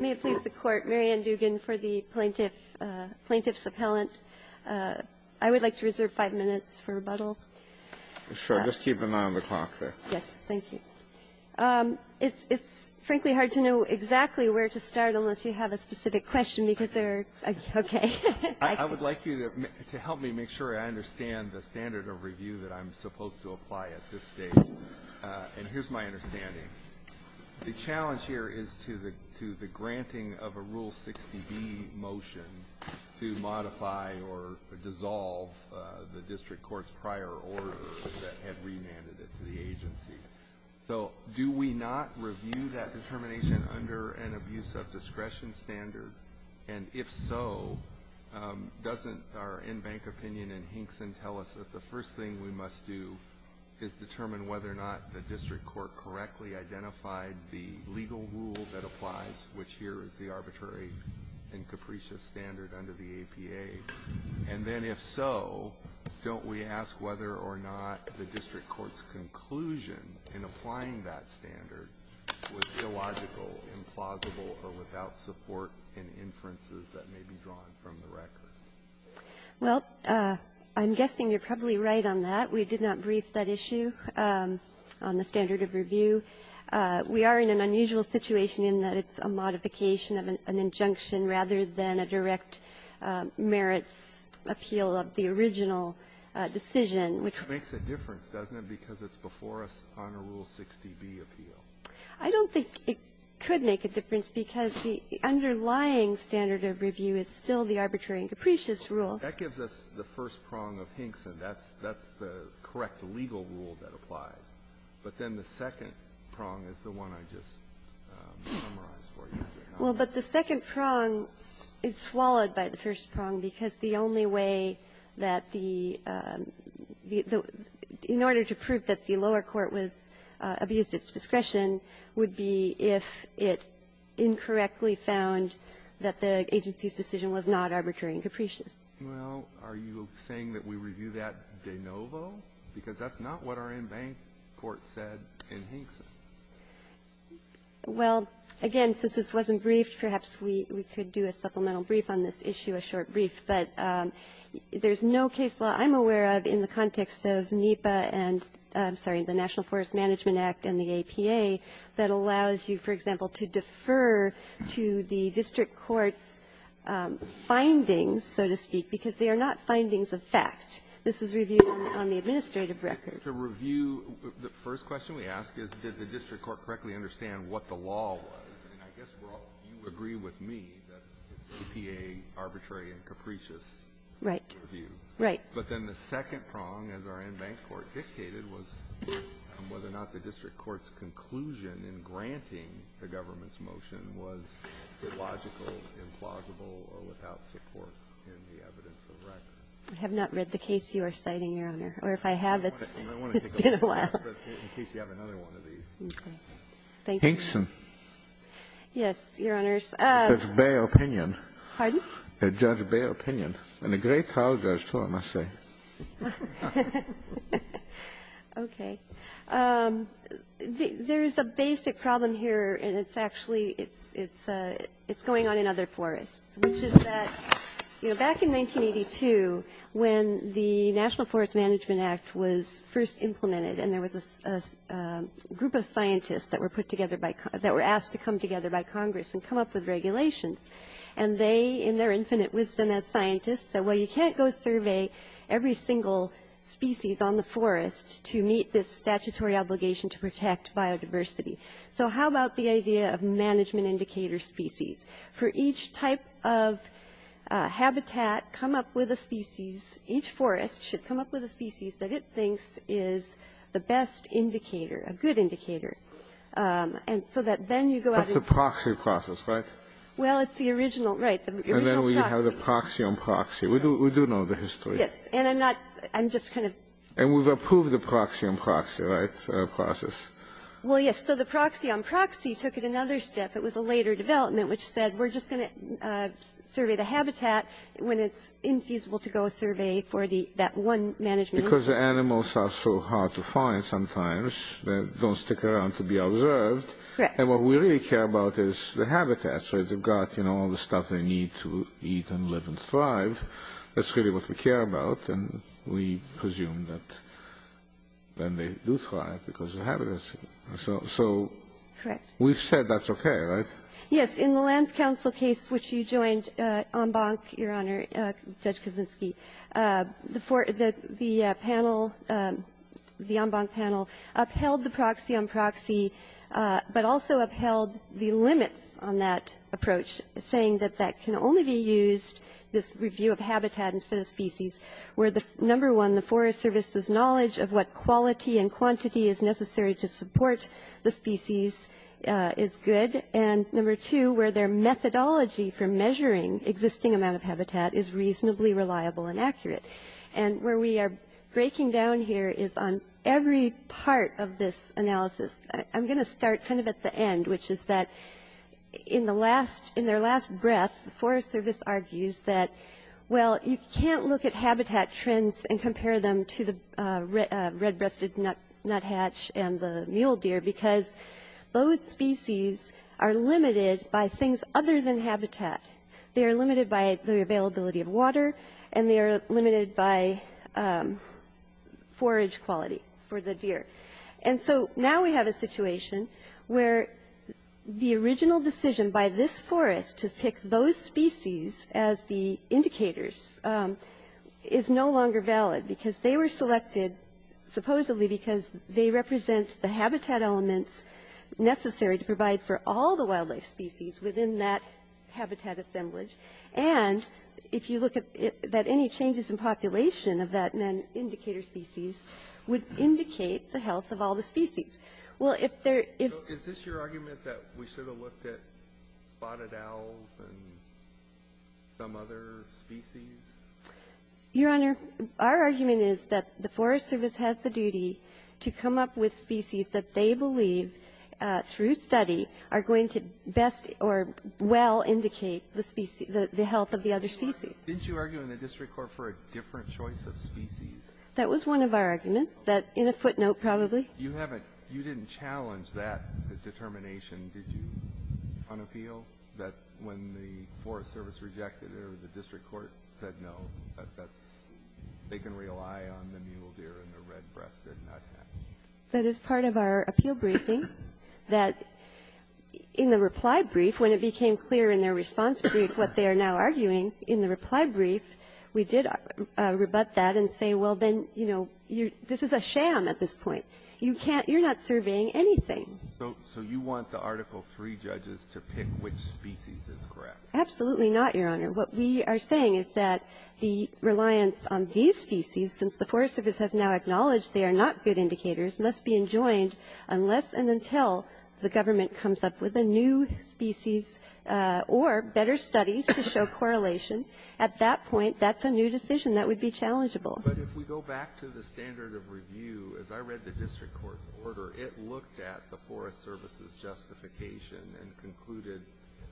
May it please the Court, Mary Ann Dugan for the Plaintiff's Appellant. I would like to reserve five minutes for rebuttal. Sure. Just keep an eye on the clock there. Yes. Thank you. It's frankly hard to know exactly where to start unless you have a specific question, because there are – okay. I would like you to help me make sure I understand the standard of review that I'm supposed to apply at this stage. And here's my understanding. The challenge here is to the granting of a Rule 60B motion to modify or dissolve the district court's prior order that had remanded it to the agency. So do we not review that determination under an abuse of discretion standard? And if so, doesn't our in-bank opinion in Hinkson tell us that the first thing we must do is determine whether or not the district court correctly identified the legal rule that applies, which here is the arbitrary and capricious standard under the APA? And then if so, don't we ask whether or not the district court's conclusion in applying that standard was illogical, implausible, or without support and inferences that may be drawn from the record? Well, I'm guessing you're probably right on that. We did not brief that issue on the standard of review. We are in an unusual situation in that it's a modification of an injunction rather than a direct merits appeal of the original decision, which we're going to review. It makes a difference, doesn't it, because it's before us on a Rule 60B appeal. I don't think it could make a difference because the underlying standard of review is still the arbitrary and capricious rule. That gives us the first prong of Hinkson. That's the correct legal rule that applies. But then the second prong is the one I just summarized for you. Well, but the second prong is swallowed by the first prong because the only way that the the the in order to prove that the lower court was abused its discretion would be if it incorrectly found that the agency's decision was not arbitrary and capricious. Well, are you saying that we review that de novo? Because that's not what our in-bank court said in Hinkson. Well, again, since this wasn't briefed, perhaps we could do a supplemental brief on this issue, a short brief. But there's no case law I'm aware of in the context of NEPA and, I'm sorry, the National Forest Management Act and the APA that allows you, for example, to defer to the district court's findings, so to speak, because they are not findings of fact. This is reviewed on the administrative record. To review, the first question we ask is, did the district court correctly understand what the law was? And I guess you agree with me that APA, arbitrary and capricious. Right. Right. But then the second prong, as our in-bank court dictated, was whether or not the district court's conclusion in granting the government's motion was illogical, implausible or without support in the evidence of record. I have not read the case you are citing, Your Honor. Or if I have, it's been a while. In case you have another one of these. Okay. Thank you. Hinkson. Yes, Your Honors. Judge Bayer opinion. Pardon? Judge Bayer opinion. And a great trial judge, too, I must say. Okay. There is a basic problem here, and it's actually going on in other forests, which is that, you know, back in 1982, when the National Forest Management Act was first implemented, and there was a group of scientists that were put together by con --that were asked to come together by Congress and come up with regulations, and they, in their infinite wisdom as scientists, said, well, you can't go survey every single species on the forest to meet this statutory obligation to protect biodiversity. So how about the idea of management indicator species? For each type of habitat, come up with a species. Each forest should come up with a species that it thinks is the best indicator, a good indicator. And so that then you go out and --. That's the proxy process, right? Well, it's the original, right, the original proxy. And then we have the proxy on proxy. We do know the history. Yes. And I'm not -- I'm just kind of --. And we've approved the proxy on proxy, right, process? Well, yes. So the proxy on proxy took it another step. It was a later development, which said, we're just going to survey the habitat when it's infeasible to go survey for that one management indicator. Because the animals are so hard to find sometimes. They don't stick around to be observed. Correct. And what we really care about is the habitat. So they've got, you know, all the stuff they need to eat and live and thrive. That's really what we care about. And we presume that then they do thrive because of the habitat. So we've said that's okay, right? Yes. In the Lands Council case which you joined, en banc, Your Honor, Judge Kaczynski, the panel, the en banc panel, upheld the proxy on proxy, but also upheld the limits on that approach, saying that that can only be used, this review of habitat instead of species, where number one, the Forest Service's knowledge of what quality and quantity is necessary to support the species is good. And number two, where their methodology for measuring existing amount of habitat is reasonably reliable and accurate. And where we are breaking down here is on every part of this analysis. I'm going to start kind of at the end, which is that in their last breath, the Forest Service argues that, well, you can't look at habitat trends and compare them to the red-breasted nuthatch and the mule deer because those species are limited by things other than habitat. They are limited by the availability of water, and they are limited by forage quality for the deer. And so now we have a situation where the original decision by this forest to pick those species as the indicators is no longer valid because they were selected supposedly because they represent the habitat elements necessary to provide for all the wildlife species within that habitat assemblage. And if you look at that, any changes in population of that indicator species would indicate the health of all the species. Well, if there — So is this your argument that we should have looked at spotted owls and some other species? Your Honor, our argument is that the Forest Service has the duty to come up with species that they believe, through study, are going to best or well indicate the species — the health of the other species. Didn't you argue in the district court for a different choice of species? That was one of our arguments. That, in a footnote, probably. You haven't — you didn't challenge that determination, did you, on appeal? That when the Forest Service rejected it or the district court said no, that that's — they can rely on the mule deer and the red-breasted nuthatch? That is part of our appeal briefing. That in the reply brief, when it became clear in their response brief what they are now arguing, in the reply brief, we did rebut that and say, well, then, you know, this is a sham at this point. You can't — you're not surveying anything. So you want the Article III judges to pick which species is correct? Absolutely not, Your Honor. What we are saying is that the reliance on these species, since the Forest Service has now acknowledged they are not good indicators, must be enjoined unless and until the government comes up with a new species or better studies to show correlation. At that point, that's a new decision. That would be challengeable. But if we go back to the standard of review, as I read the district court's order, it looked at the Forest Service's justification and concluded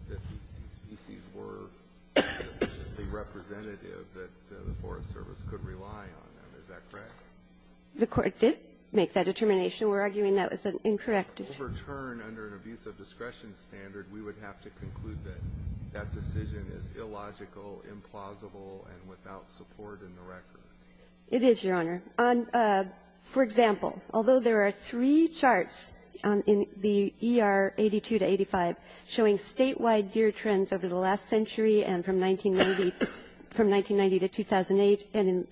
that these species were representative that the Forest Service could rely on them. Is that correct? The court did make that determination. We're arguing that was an incorrect determination. If we overturn under an abuse of discretion standard, we would have to conclude that that decision is illogical, implausible, and without support in the record. It is, Your Honor. On — for example, although there are three charts in the ER 82 to 85 showing statewide deer trends over the last century and from 1990 — from 1990 to 2008 and in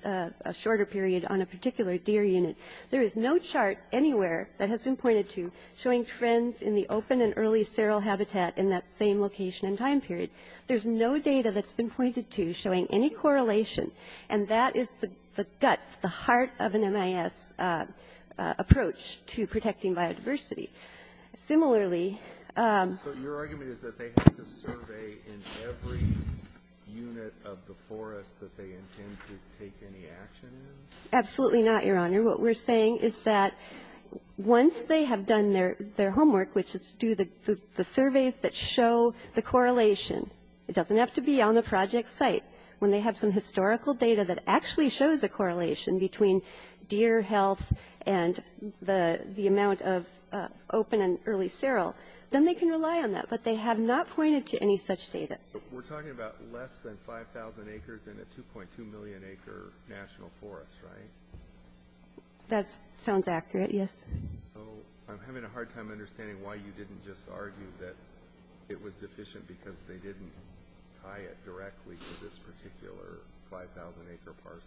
a shorter period on a particular deer unit, there is no chart anywhere that has been pointed to showing trends in the open and early seral habitat in that same location and time period. There's no data that's been pointed to showing any correlation. And that is the guts, the heart of an MIS approach to protecting biodiversity. Similarly — So your argument is that they have to survey in every unit of the forest that they intend to take any action in? Absolutely not, Your Honor. What we're saying is that once they have done their homework, which is do the surveys that show the correlation — it doesn't have to be on the project site — when they have some historical data that actually shows a correlation between deer health and the amount of open and early seral, then they can rely on that. But they have not pointed to any such data. We're talking about less than 5,000 acres in a 2.2 million acre national forest, right? That sounds accurate, yes. So I'm having a hard time understanding why you didn't just argue that it was deficient because they didn't tie it directly to this particular 5,000 acre parcel.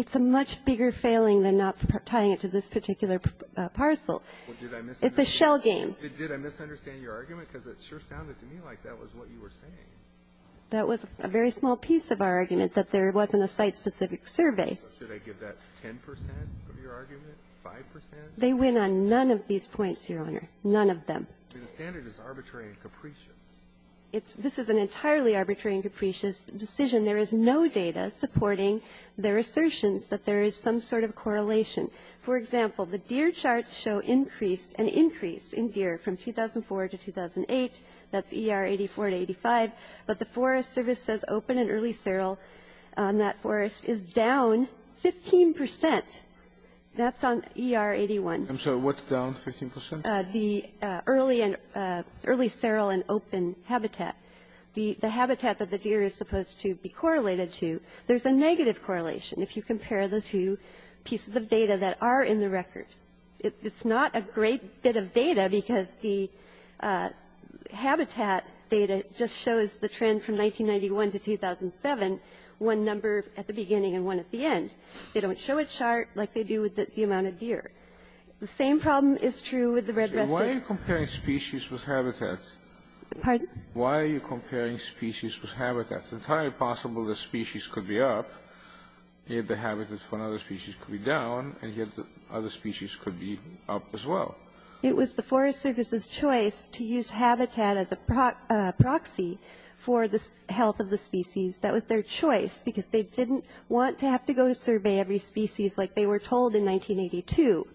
It's a much bigger failing than not tying it to this particular parcel. It's a shell game. Did I misunderstand your argument? Because it sure sounded to me like that was what you were saying. That was a very small piece of our argument, that there wasn't a site-specific survey. So should I give that 10 percent of your argument, 5 percent? They went on none of these points, Your Honor, none of them. The standard is arbitrary and capricious. It's — this is an entirely arbitrary and capricious decision. There is no data supporting their assertions that there is some sort of correlation. For example, the deer charts show increase — an increase in deer from 2004 to 2008. That's E.R. 84 to 85. But the Forest Service says open and early seral on that forest is down 15 percent. That's on E.R. 81. I'm sorry. What's down 15 percent? The early and — early seral and open habitat. The habitat that the deer is supposed to be correlated to, there's a negative correlation if you compare the two pieces of data that are in the record. It's not a great bit of data because the habitat data just shows the trend from 1991 to 2007, one number at the beginning and one at the end. They don't show a chart like they do with the amount of deer. The same problem is true with the red residue. Why are you comparing species with habitat? Pardon? Why are you comparing species with habitat? It's entirely possible the species could be up. If the habitat for another species could be down, and yet the other species could be up as well. It was the Forest Service's choice to use habitat as a proxy for the health of the species. That was their choice because they didn't want to have to go survey every species like they were told in 1982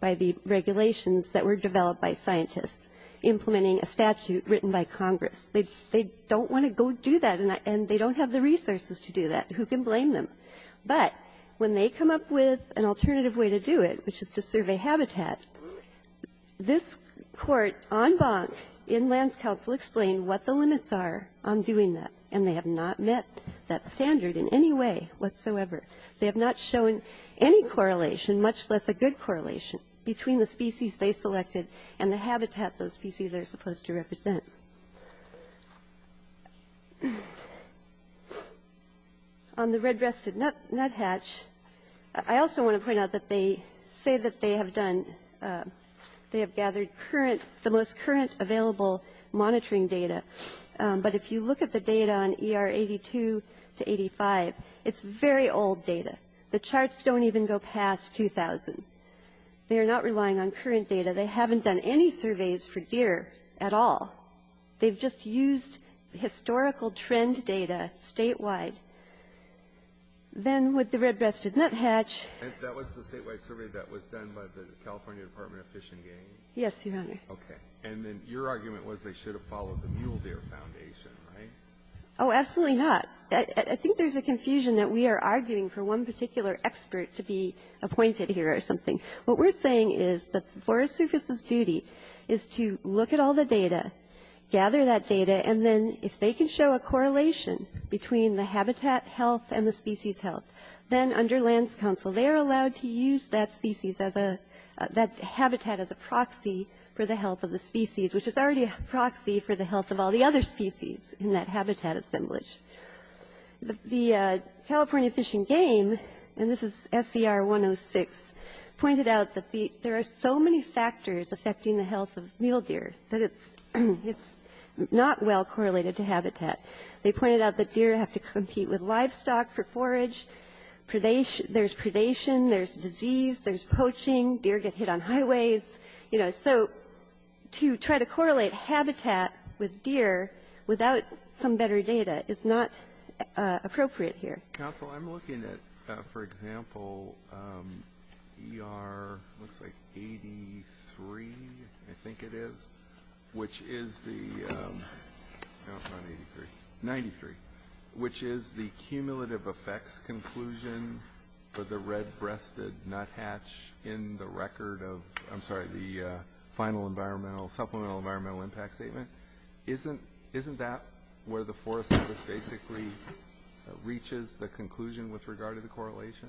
by the regulations that were developed by scientists implementing a statute written by Congress. They don't want to go do that, and they don't have the resources to do that. Who can blame them? But when they come up with an alternative way to do it, which is to survey habitat, this court en banc in Lands Council explained what the limits are on doing that, and they have not met that standard in any way whatsoever. They have not shown any correlation, much less a good correlation, between the species On the red-breasted nuthatch, I also want to point out that they say that they have done they have gathered current, the most current available monitoring data. But if you look at the data on ER 82 to 85, it's very old data. The charts don't even go past 2000. They are not relying on current data. They haven't done any surveys for deer at all. They've just used historical trend data statewide. Then with the red-breasted nuthatch That was the statewide survey that was done by the California Department of Fish and Game. Yes, Your Honor. Okay. And then your argument was they should have followed the mule deer foundation, right? Oh, absolutely not. I think there's a confusion that we are arguing for one particular expert to be appointed here or something. What we're saying is that Forest Service's duty is to look at all the data, gather that data, and then if they can show a correlation between the habitat health and the species health, then under Lands Council, they are allowed to use that species as a, that habitat as a proxy for the health of the species, which is already a proxy for the health of all the other species in that habitat assemblage. The California Fish and Game, and this is SCR 106, pointed out that there are so many factors affecting the health of mule deer that it's not well correlated to habitat. They pointed out that deer have to compete with livestock for forage. There's predation. There's disease. There's poaching. Deer get hit on highways. You know, so to try to correlate habitat with deer without some better data is not appropriate here. Council, I'm looking at, for example, ER, looks like 83, I think it is, which is the 93, which is the cumulative effects conclusion for the red-breasted nuthatch in the record of, I'm sorry, the final environmental, supplemental environmental impact statement. Isn't, isn't that where the Forest Service basically reaches the conclusion with regard to the correlation?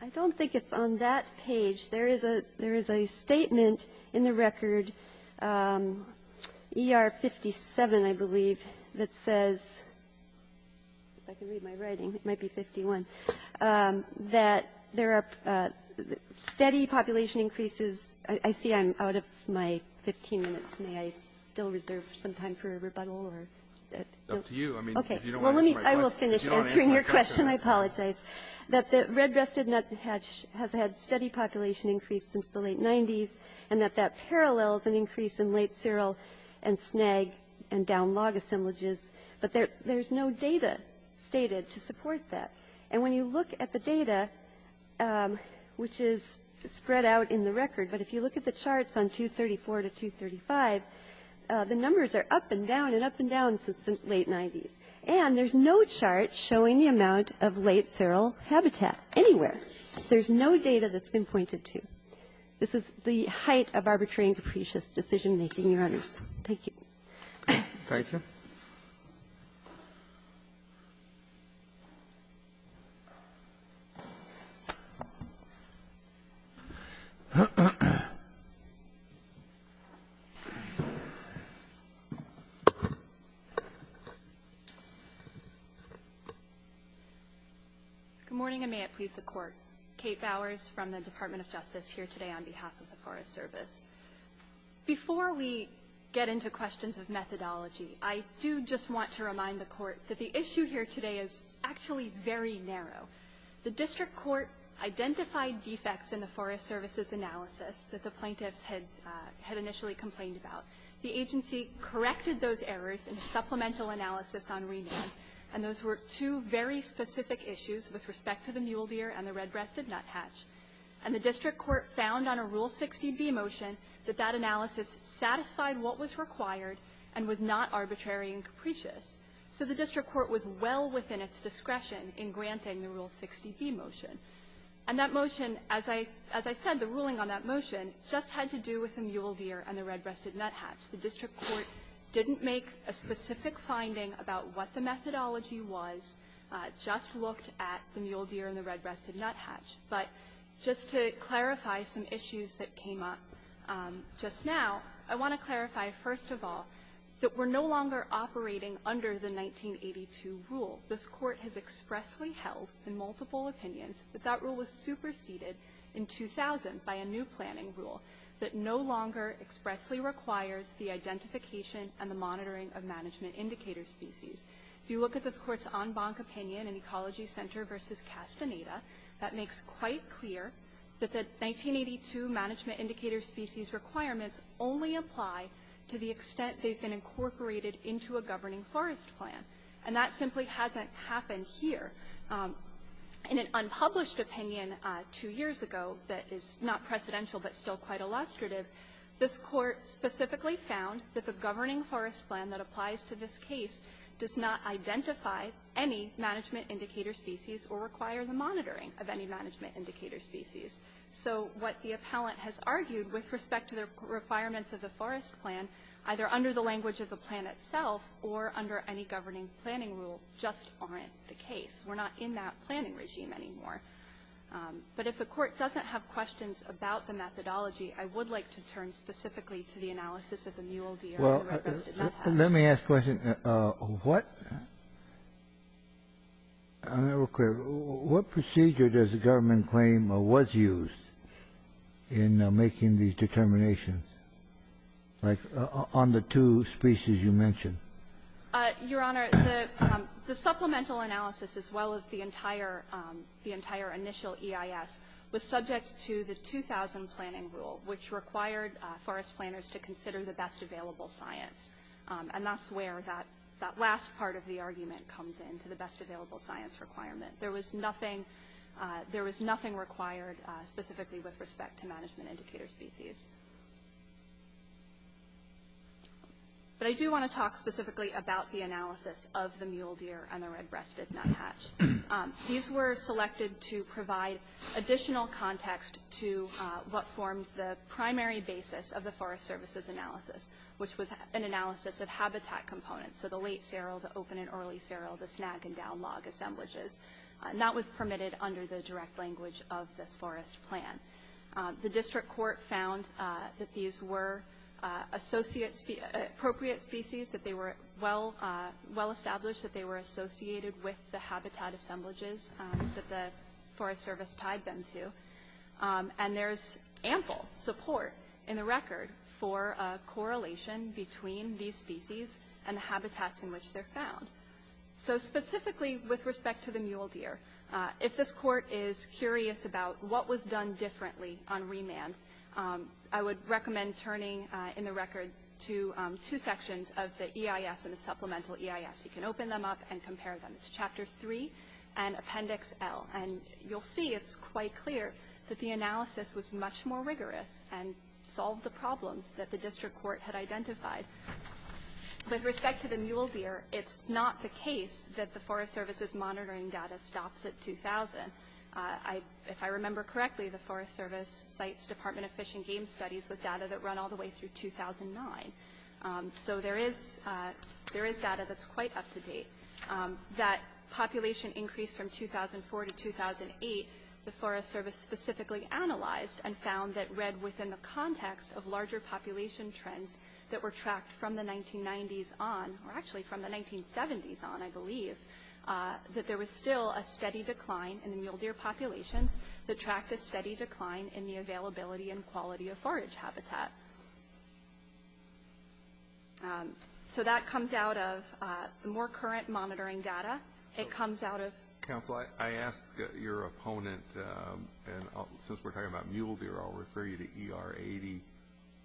I don't think it's on that page. There is a, there is a statement in the record, ER 57, I believe, that says, if I can read my writing, it might be 51, that there are steady population increases, I see I'm out of my 15 minutes. May I still reserve some time for a rebuttal or? Okay. Well, let me, I will finish answering your question. I apologize. That the red-breasted nuthatch has had steady population increase since the late 90s, and that that parallels an increase in late seral and snag and down log assemblages, but there's no data stated to support that. And when you look at the data, which is spread out in the record, but if you look at the charts on 234 to 235, the numbers are up and down and up and down since the late 90s. And there's no chart showing the amount of late seral habitat anywhere. There's no data that's been pointed to. This is the height of arbitrary and capricious decision-making, Your Honors. Thank you. Thank you. Good morning, and may it please the Court. Kate Bowers from the Department of Justice here today on behalf of the Forest Service. Before we get into questions of methodology, I do just want to remind the Court that the issue here today is actually very narrow. The district court identified defects in the Forest Service's analysis that the plaintiffs had initially complained about. The agency corrected those errors in a supplemental analysis on rename, and those were two very specific issues with respect to the mule deer and the red-breasted nuthatch. And the district court found on a Rule 60B motion that that analysis satisfied what was required and was not arbitrary and capricious. So the district court was well within its discretion in granting the Rule 60B motion. And that motion, as I said, the ruling on that motion just had to do with the mule deer and the red-breasted nuthatch. The district court didn't make a specific finding about what the methodology was, just looked at the mule deer and the red-breasted nuthatch. But just to clarify some issues that came up just now, I want to clarify, first of all, that we're no longer operating under the 1982 rule. This Court has expressly held in multiple opinions that that rule was superseded in 2000 by a new planning rule that no longer expressly requires the identification and the monitoring of management indicator species. If you look at this Court's en banc opinion in Ecology Center v. Castaneda, that makes quite clear that the 1982 management indicator species requirements only apply to the extent they've been incorporated into a governing forest plan. And that simply hasn't happened here. In an unpublished opinion two years ago that is not precedential but still quite illustrative, this Court specifically found that the governing forest plan that applies to this case does not identify any management indicator species or require the monitoring of any management indicator species. So what the appellant has argued with respect to the requirements of the forest plan, either under the language of the plan itself or under any governing planning rule, just aren't the case. We're not in that planning regime anymore. But if the Court doesn't have questions about the methodology, I would like to turn specifically to the analysis of the mule deer and the red-breasted nuthatch. Let me ask a question. What procedure does the government claim was used in making these determinations, like on the two species you mentioned? Your Honor, the supplemental analysis as well as the entire initial EIS was subject to the 2000 planning rule, which required forest planners to consider the best available science. And that's where that last part of the argument comes in, to the best available science requirement. There was nothing required specifically with respect to management indicator species. But I do want to talk specifically about the analysis of the mule deer and the red-breasted nuthatch. These were selected to provide additional context to what formed the primary basis of the Forest Services analysis, which was an analysis of habitat components. So the late serral, the open and early serral, the snag and down log assemblages. And that was permitted under the direct language of this forest plan. The District Court found that these were appropriate species, that they were well established, that they were associated with the habitat assemblages that the Forest Service tied them to. And there's ample support in the record for a correlation between these species and the habitats in which they're found. So specifically with respect to the mule deer, if this Court is curious about what was done differently on remand, I would recommend turning in the record to two sections of the EIS and the supplemental EIS. You can open them up and compare them. It's Chapter 3 and Appendix L. And you'll see it's quite clear that the analysis was much more rigorous and solved the problems that the District Court had identified. With respect to the mule deer, it's not the case that the Forest Service's monitoring data stops at 2000. If I remember correctly, the Forest Service cites Department of Fish and Game Studies with data that run all the way through 2009. So there is data that's quite up to date. That population increase from 2004 to 2008, the Forest Service specifically analyzed and found that read within the context of larger population trends that were tracked from the 1990s on, or actually from the 1970s on, I believe, that there was still a steady decline in the mule deer populations that tracked a steady decline in the availability and quality of forage habitat. So that comes out of more current monitoring data. It comes out of... Council, I asked your opponent, and since we're talking about mule deer, I'll refer you to ER 80,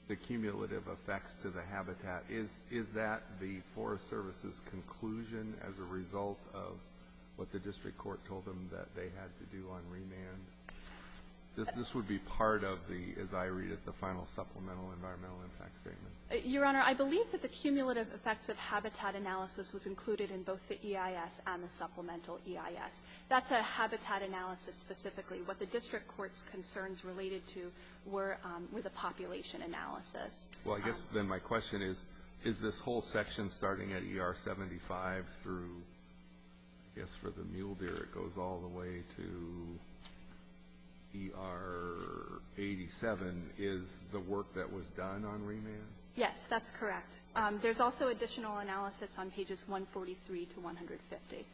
the cumulative effects to the habitat. Is that the Forest Service's conclusion as a result of what the District Court told them that they had to do on remand? This would be part of the, as I read it, the final supplemental environmental impact statement. Your Honor, I believe that the cumulative effects of habitat analysis was included in both the EIS and the supplemental EIS. That's a habitat analysis specifically. What the District Court's concerns related to were the population analysis. Well, I guess then my question is, is this whole section starting at ER 75 through, I think, ER 87 is the work that was done on remand? Yes, that's correct. There's also additional analysis on pages 143 to 150.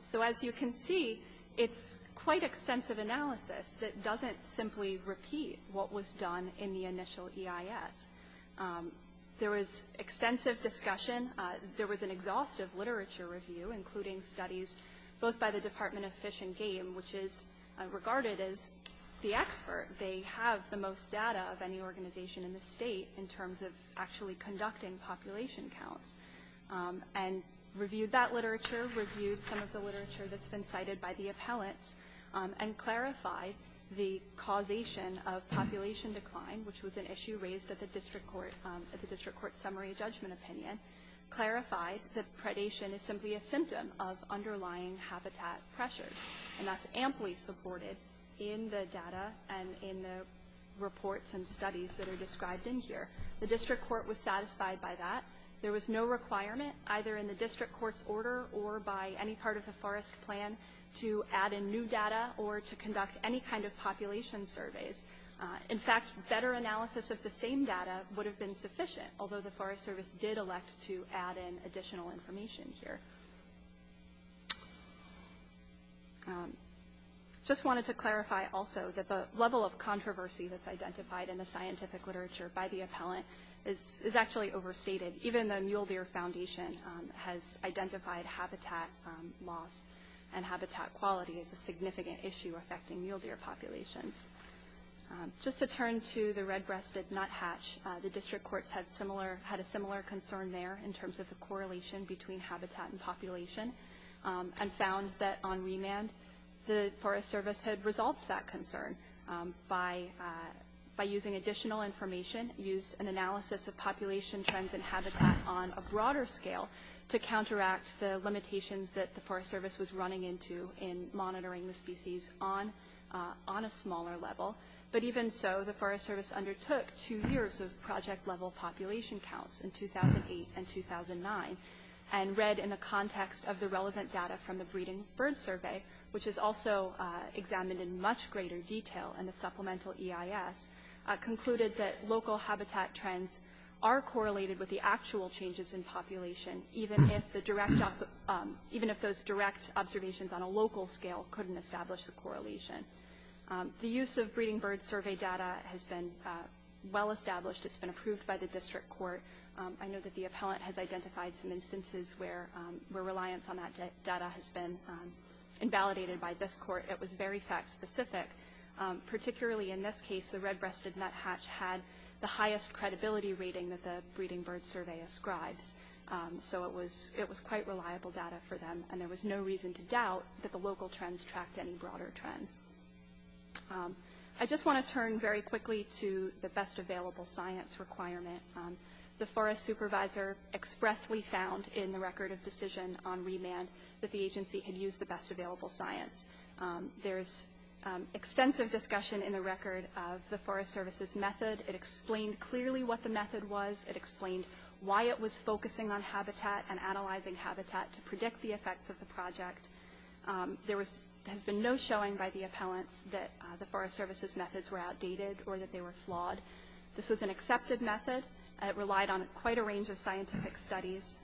So as you can see, it's quite extensive analysis that doesn't simply repeat what was done in the initial EIS. There was extensive discussion. There was an exhaustive literature review, including studies both by the Department of Fish and Game, which is regarded as the expert. They have the most data of any organization in the state in terms of actually conducting population counts, and reviewed that literature, reviewed some of the literature that's been cited by the appellants, and clarified the causation of population decline, which was an issue raised at the District Court summary judgment opinion, clarified that predation is simply a symptom of underlying habitat pressure. And that's amply supported in the data and in the reports and studies that are described in here. The District Court was satisfied by that. There was no requirement, either in the District Court's order or by any part of the Forest Plan, to add in new data or to conduct any kind of population surveys. In fact, better analysis of the same data would have been sufficient, although the Forest Service did elect to add in additional information here. I just wanted to clarify also that the level of controversy that's identified in the scientific literature by the appellant is actually overstated. Even the Mule Deer Foundation has identified habitat loss and habitat quality as a significant issue affecting mule deer populations. Just to turn to the red-breasted nuthatch, the District Courts had a similar concern there in terms of the correlation between habitat and population and found that on remand the Forest Service had resolved that concern by using additional information, used an analysis of population trends and habitat on a broader scale to counteract the limitations that the But even so, the Forest Service undertook two years of project-level population counts in 2008 and 2009 and read in the context of the relevant data from the Breeding Birds Survey, which is also examined in much greater detail in the Supplemental EIS, concluded that local habitat trends are correlated with the actual changes in population, even if those direct observations on a local scale couldn't establish the correlation. The use of Breeding Birds Survey data has been well-established. It's been approved by the District Court. I know that the appellant has identified some instances where reliance on that data has been invalidated by this court. It was very fact-specific. Particularly in this case, the red-breasted nuthatch had the highest credibility rating that the Breeding Birds Survey ascribes, so it was quite reliable data for them and there is no reason to doubt that the local trends tracked any broader trends. I just want to turn very quickly to the best available science requirement. The Forest Supervisor expressly found in the record of decision on remand that the agency had used the best available science. There is extensive discussion in the record of the Forest Service's method. It explained clearly what the method was. It explained why it was focusing on habitat and analyzing habitat to predict the effects of the project. There has been no showing by the appellants that the Forest Service's methods were outdated or that they were flawed. This was an accepted method. It relied on quite a range of scientific studies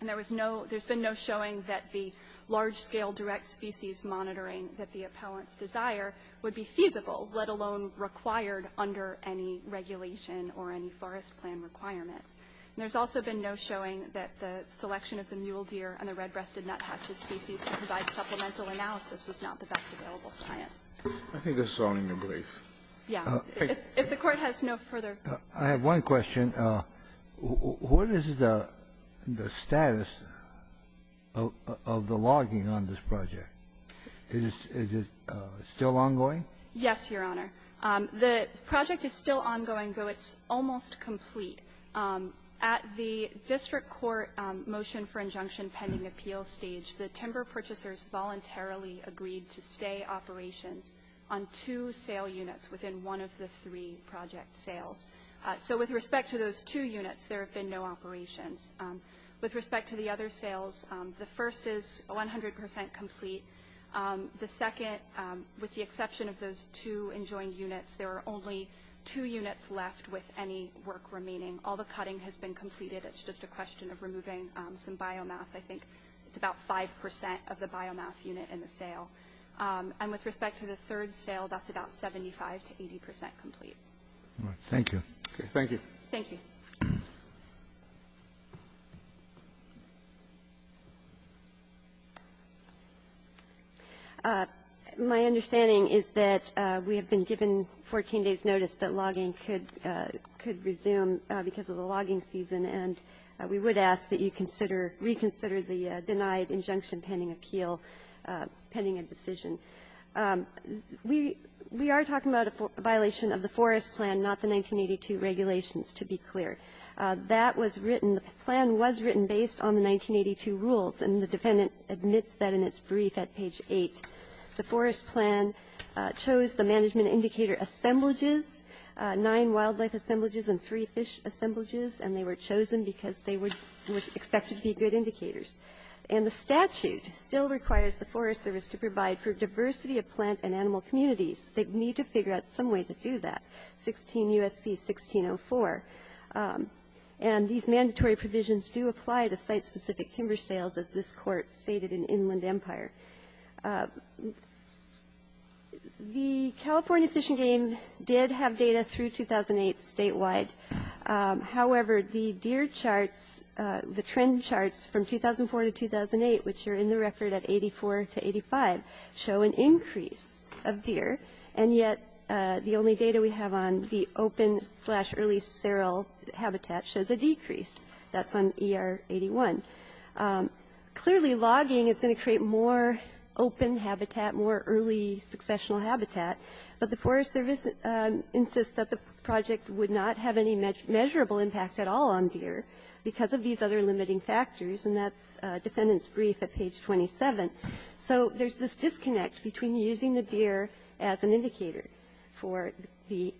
and there's been no showing that the large-scale direct species monitoring that the appellants desire would be feasible, let alone required under any regulation or any forest plan requirements. And there's also been no showing that the selection of the mule deer and the red-breasted nuthatches species to provide supplemental analysis was not the best available science. Kennedy. I think this is all in your brief. Yeah. If the Court has no further. I have one question. What is the status of the logging on this project? Is it still ongoing? Yes, Your Honor. The project is still ongoing, though it's almost complete. At the district court motion for injunction pending appeal stage, the timber purchasers voluntarily agreed to stay operations on two sale units within one of the three project sales. So with respect to those two units, there have been no operations. With respect to the other sales, the first is 100 percent complete. The second, with the exception of those two enjoined units, there are only two units left with any work remaining. All the cutting has been completed. It's just a question of removing some biomass. I think it's about 5 percent of the biomass unit in the sale. And with respect to the third sale, that's about 75 to 80 percent complete. Thank you. Thank you. Thank you. My understanding is that we have been given 14 days' notice that logging could resume because of the logging season, and we would ask that you consider, reconsider the denied injunction pending appeal, pending a decision. We are talking about a violation of the Forest Plan, not the 1982 regulations, to be clear. That was written. The plan was written based on the 1982 rules, and the defendant admits that in its brief at page 8. The Forest Plan chose the management indicator assemblages, nine wildlife assemblages and three fish assemblages, and they were chosen because they were expected to be good indicators. And the statute still requires the Forest Service to provide for diversity of plant and animal communities. They need to figure out some way to do that, 16 U.S.C. 1604. And these mandatory provisions do apply to site-specific timber sales, as this Court stated in Inland Empire. The California Fish and Game did have data through 2008 statewide. However, the deer charts, the trend charts from 2004 to 2008, which are in the record at 84 to 85, show an increase of deer. And yet the only data we have on the open slash early seral habitat shows a decrease. That's on ER 81. Clearly, logging is going to create more open habitat, more early successional habitat, but the Forest Service insists that the project would not have any measurable impact at all on deer because of these other limiting factors, and that's defendant's brief at page 27. So there's this disconnect between using the deer as an indicator for the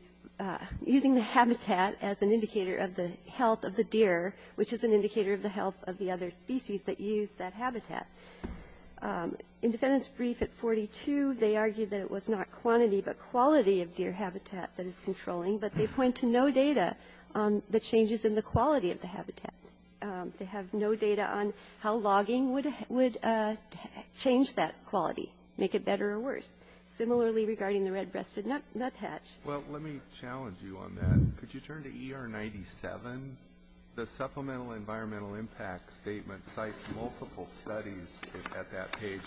using the habitat as an indicator of the health of the deer, which is an indicator of the health of the other species that use that habitat. In defendant's brief at 42, they argued that it was not quantity but quality of deer habitat that is controlling, but they point to no data on the changes in the quality of the habitat. They have no data on how logging would change that quality, make it better or worse. Similarly, regarding the red-breasted nuthatch. Well, let me challenge you on that. Could you turn to ER 97? The supplemental environmental impact statement cites multiple studies at that page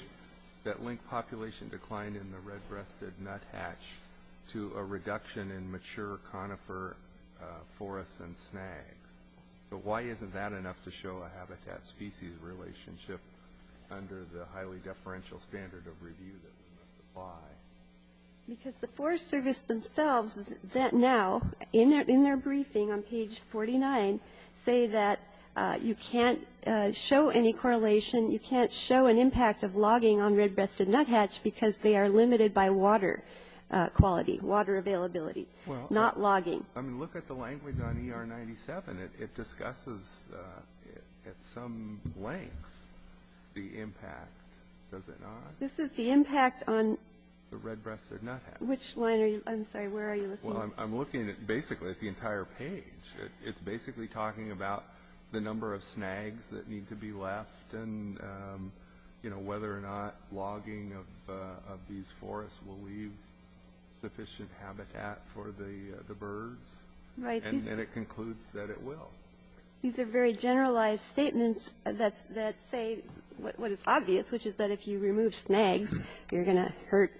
that link population decline in the red-breasted nuthatch to a reduction in mature conifer forests and snags. But why isn't that enough to show a habitat-species relationship under the highly deferential standard of review that we must apply? Because the Forest Service themselves now, in their briefing on page 49, say that you can't show any correlation, you can't show an impact of logging on red-breasted nuthatch because they are limited by water quality, water availability, not logging. I mean, look at the language on ER 97. It discusses at some length the impact, does it not? This is the impact on... The red-breasted nuthatch. Which line are you, I'm sorry, where are you looking at? Well, I'm looking at basically at the entire page. It's basically talking about the number of snags that need to be left and, you know, whether or not logging of these forests will leave sufficient habitat for the birds. Right. And then it concludes that it will. These are very generalized statements that say what is obvious, which is that if you remove snags, you're going to hurt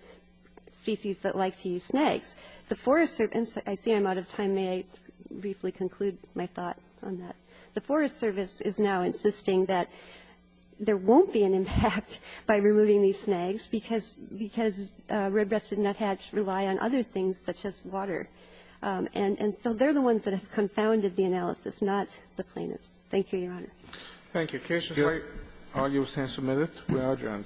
species that like to use snags. The Forest Service, and I see I'm out of time. May I briefly conclude my thought on that? The Forest Service is now insisting that there won't be an impact by removing these snags because red-breasted nuthatch rely on other things such as water. And so they're the ones that have confounded the analysis, not the plaintiffs. Thank you, Your Honor. Thank you. The case is light. All those in favor, we are adjourned. Thank you.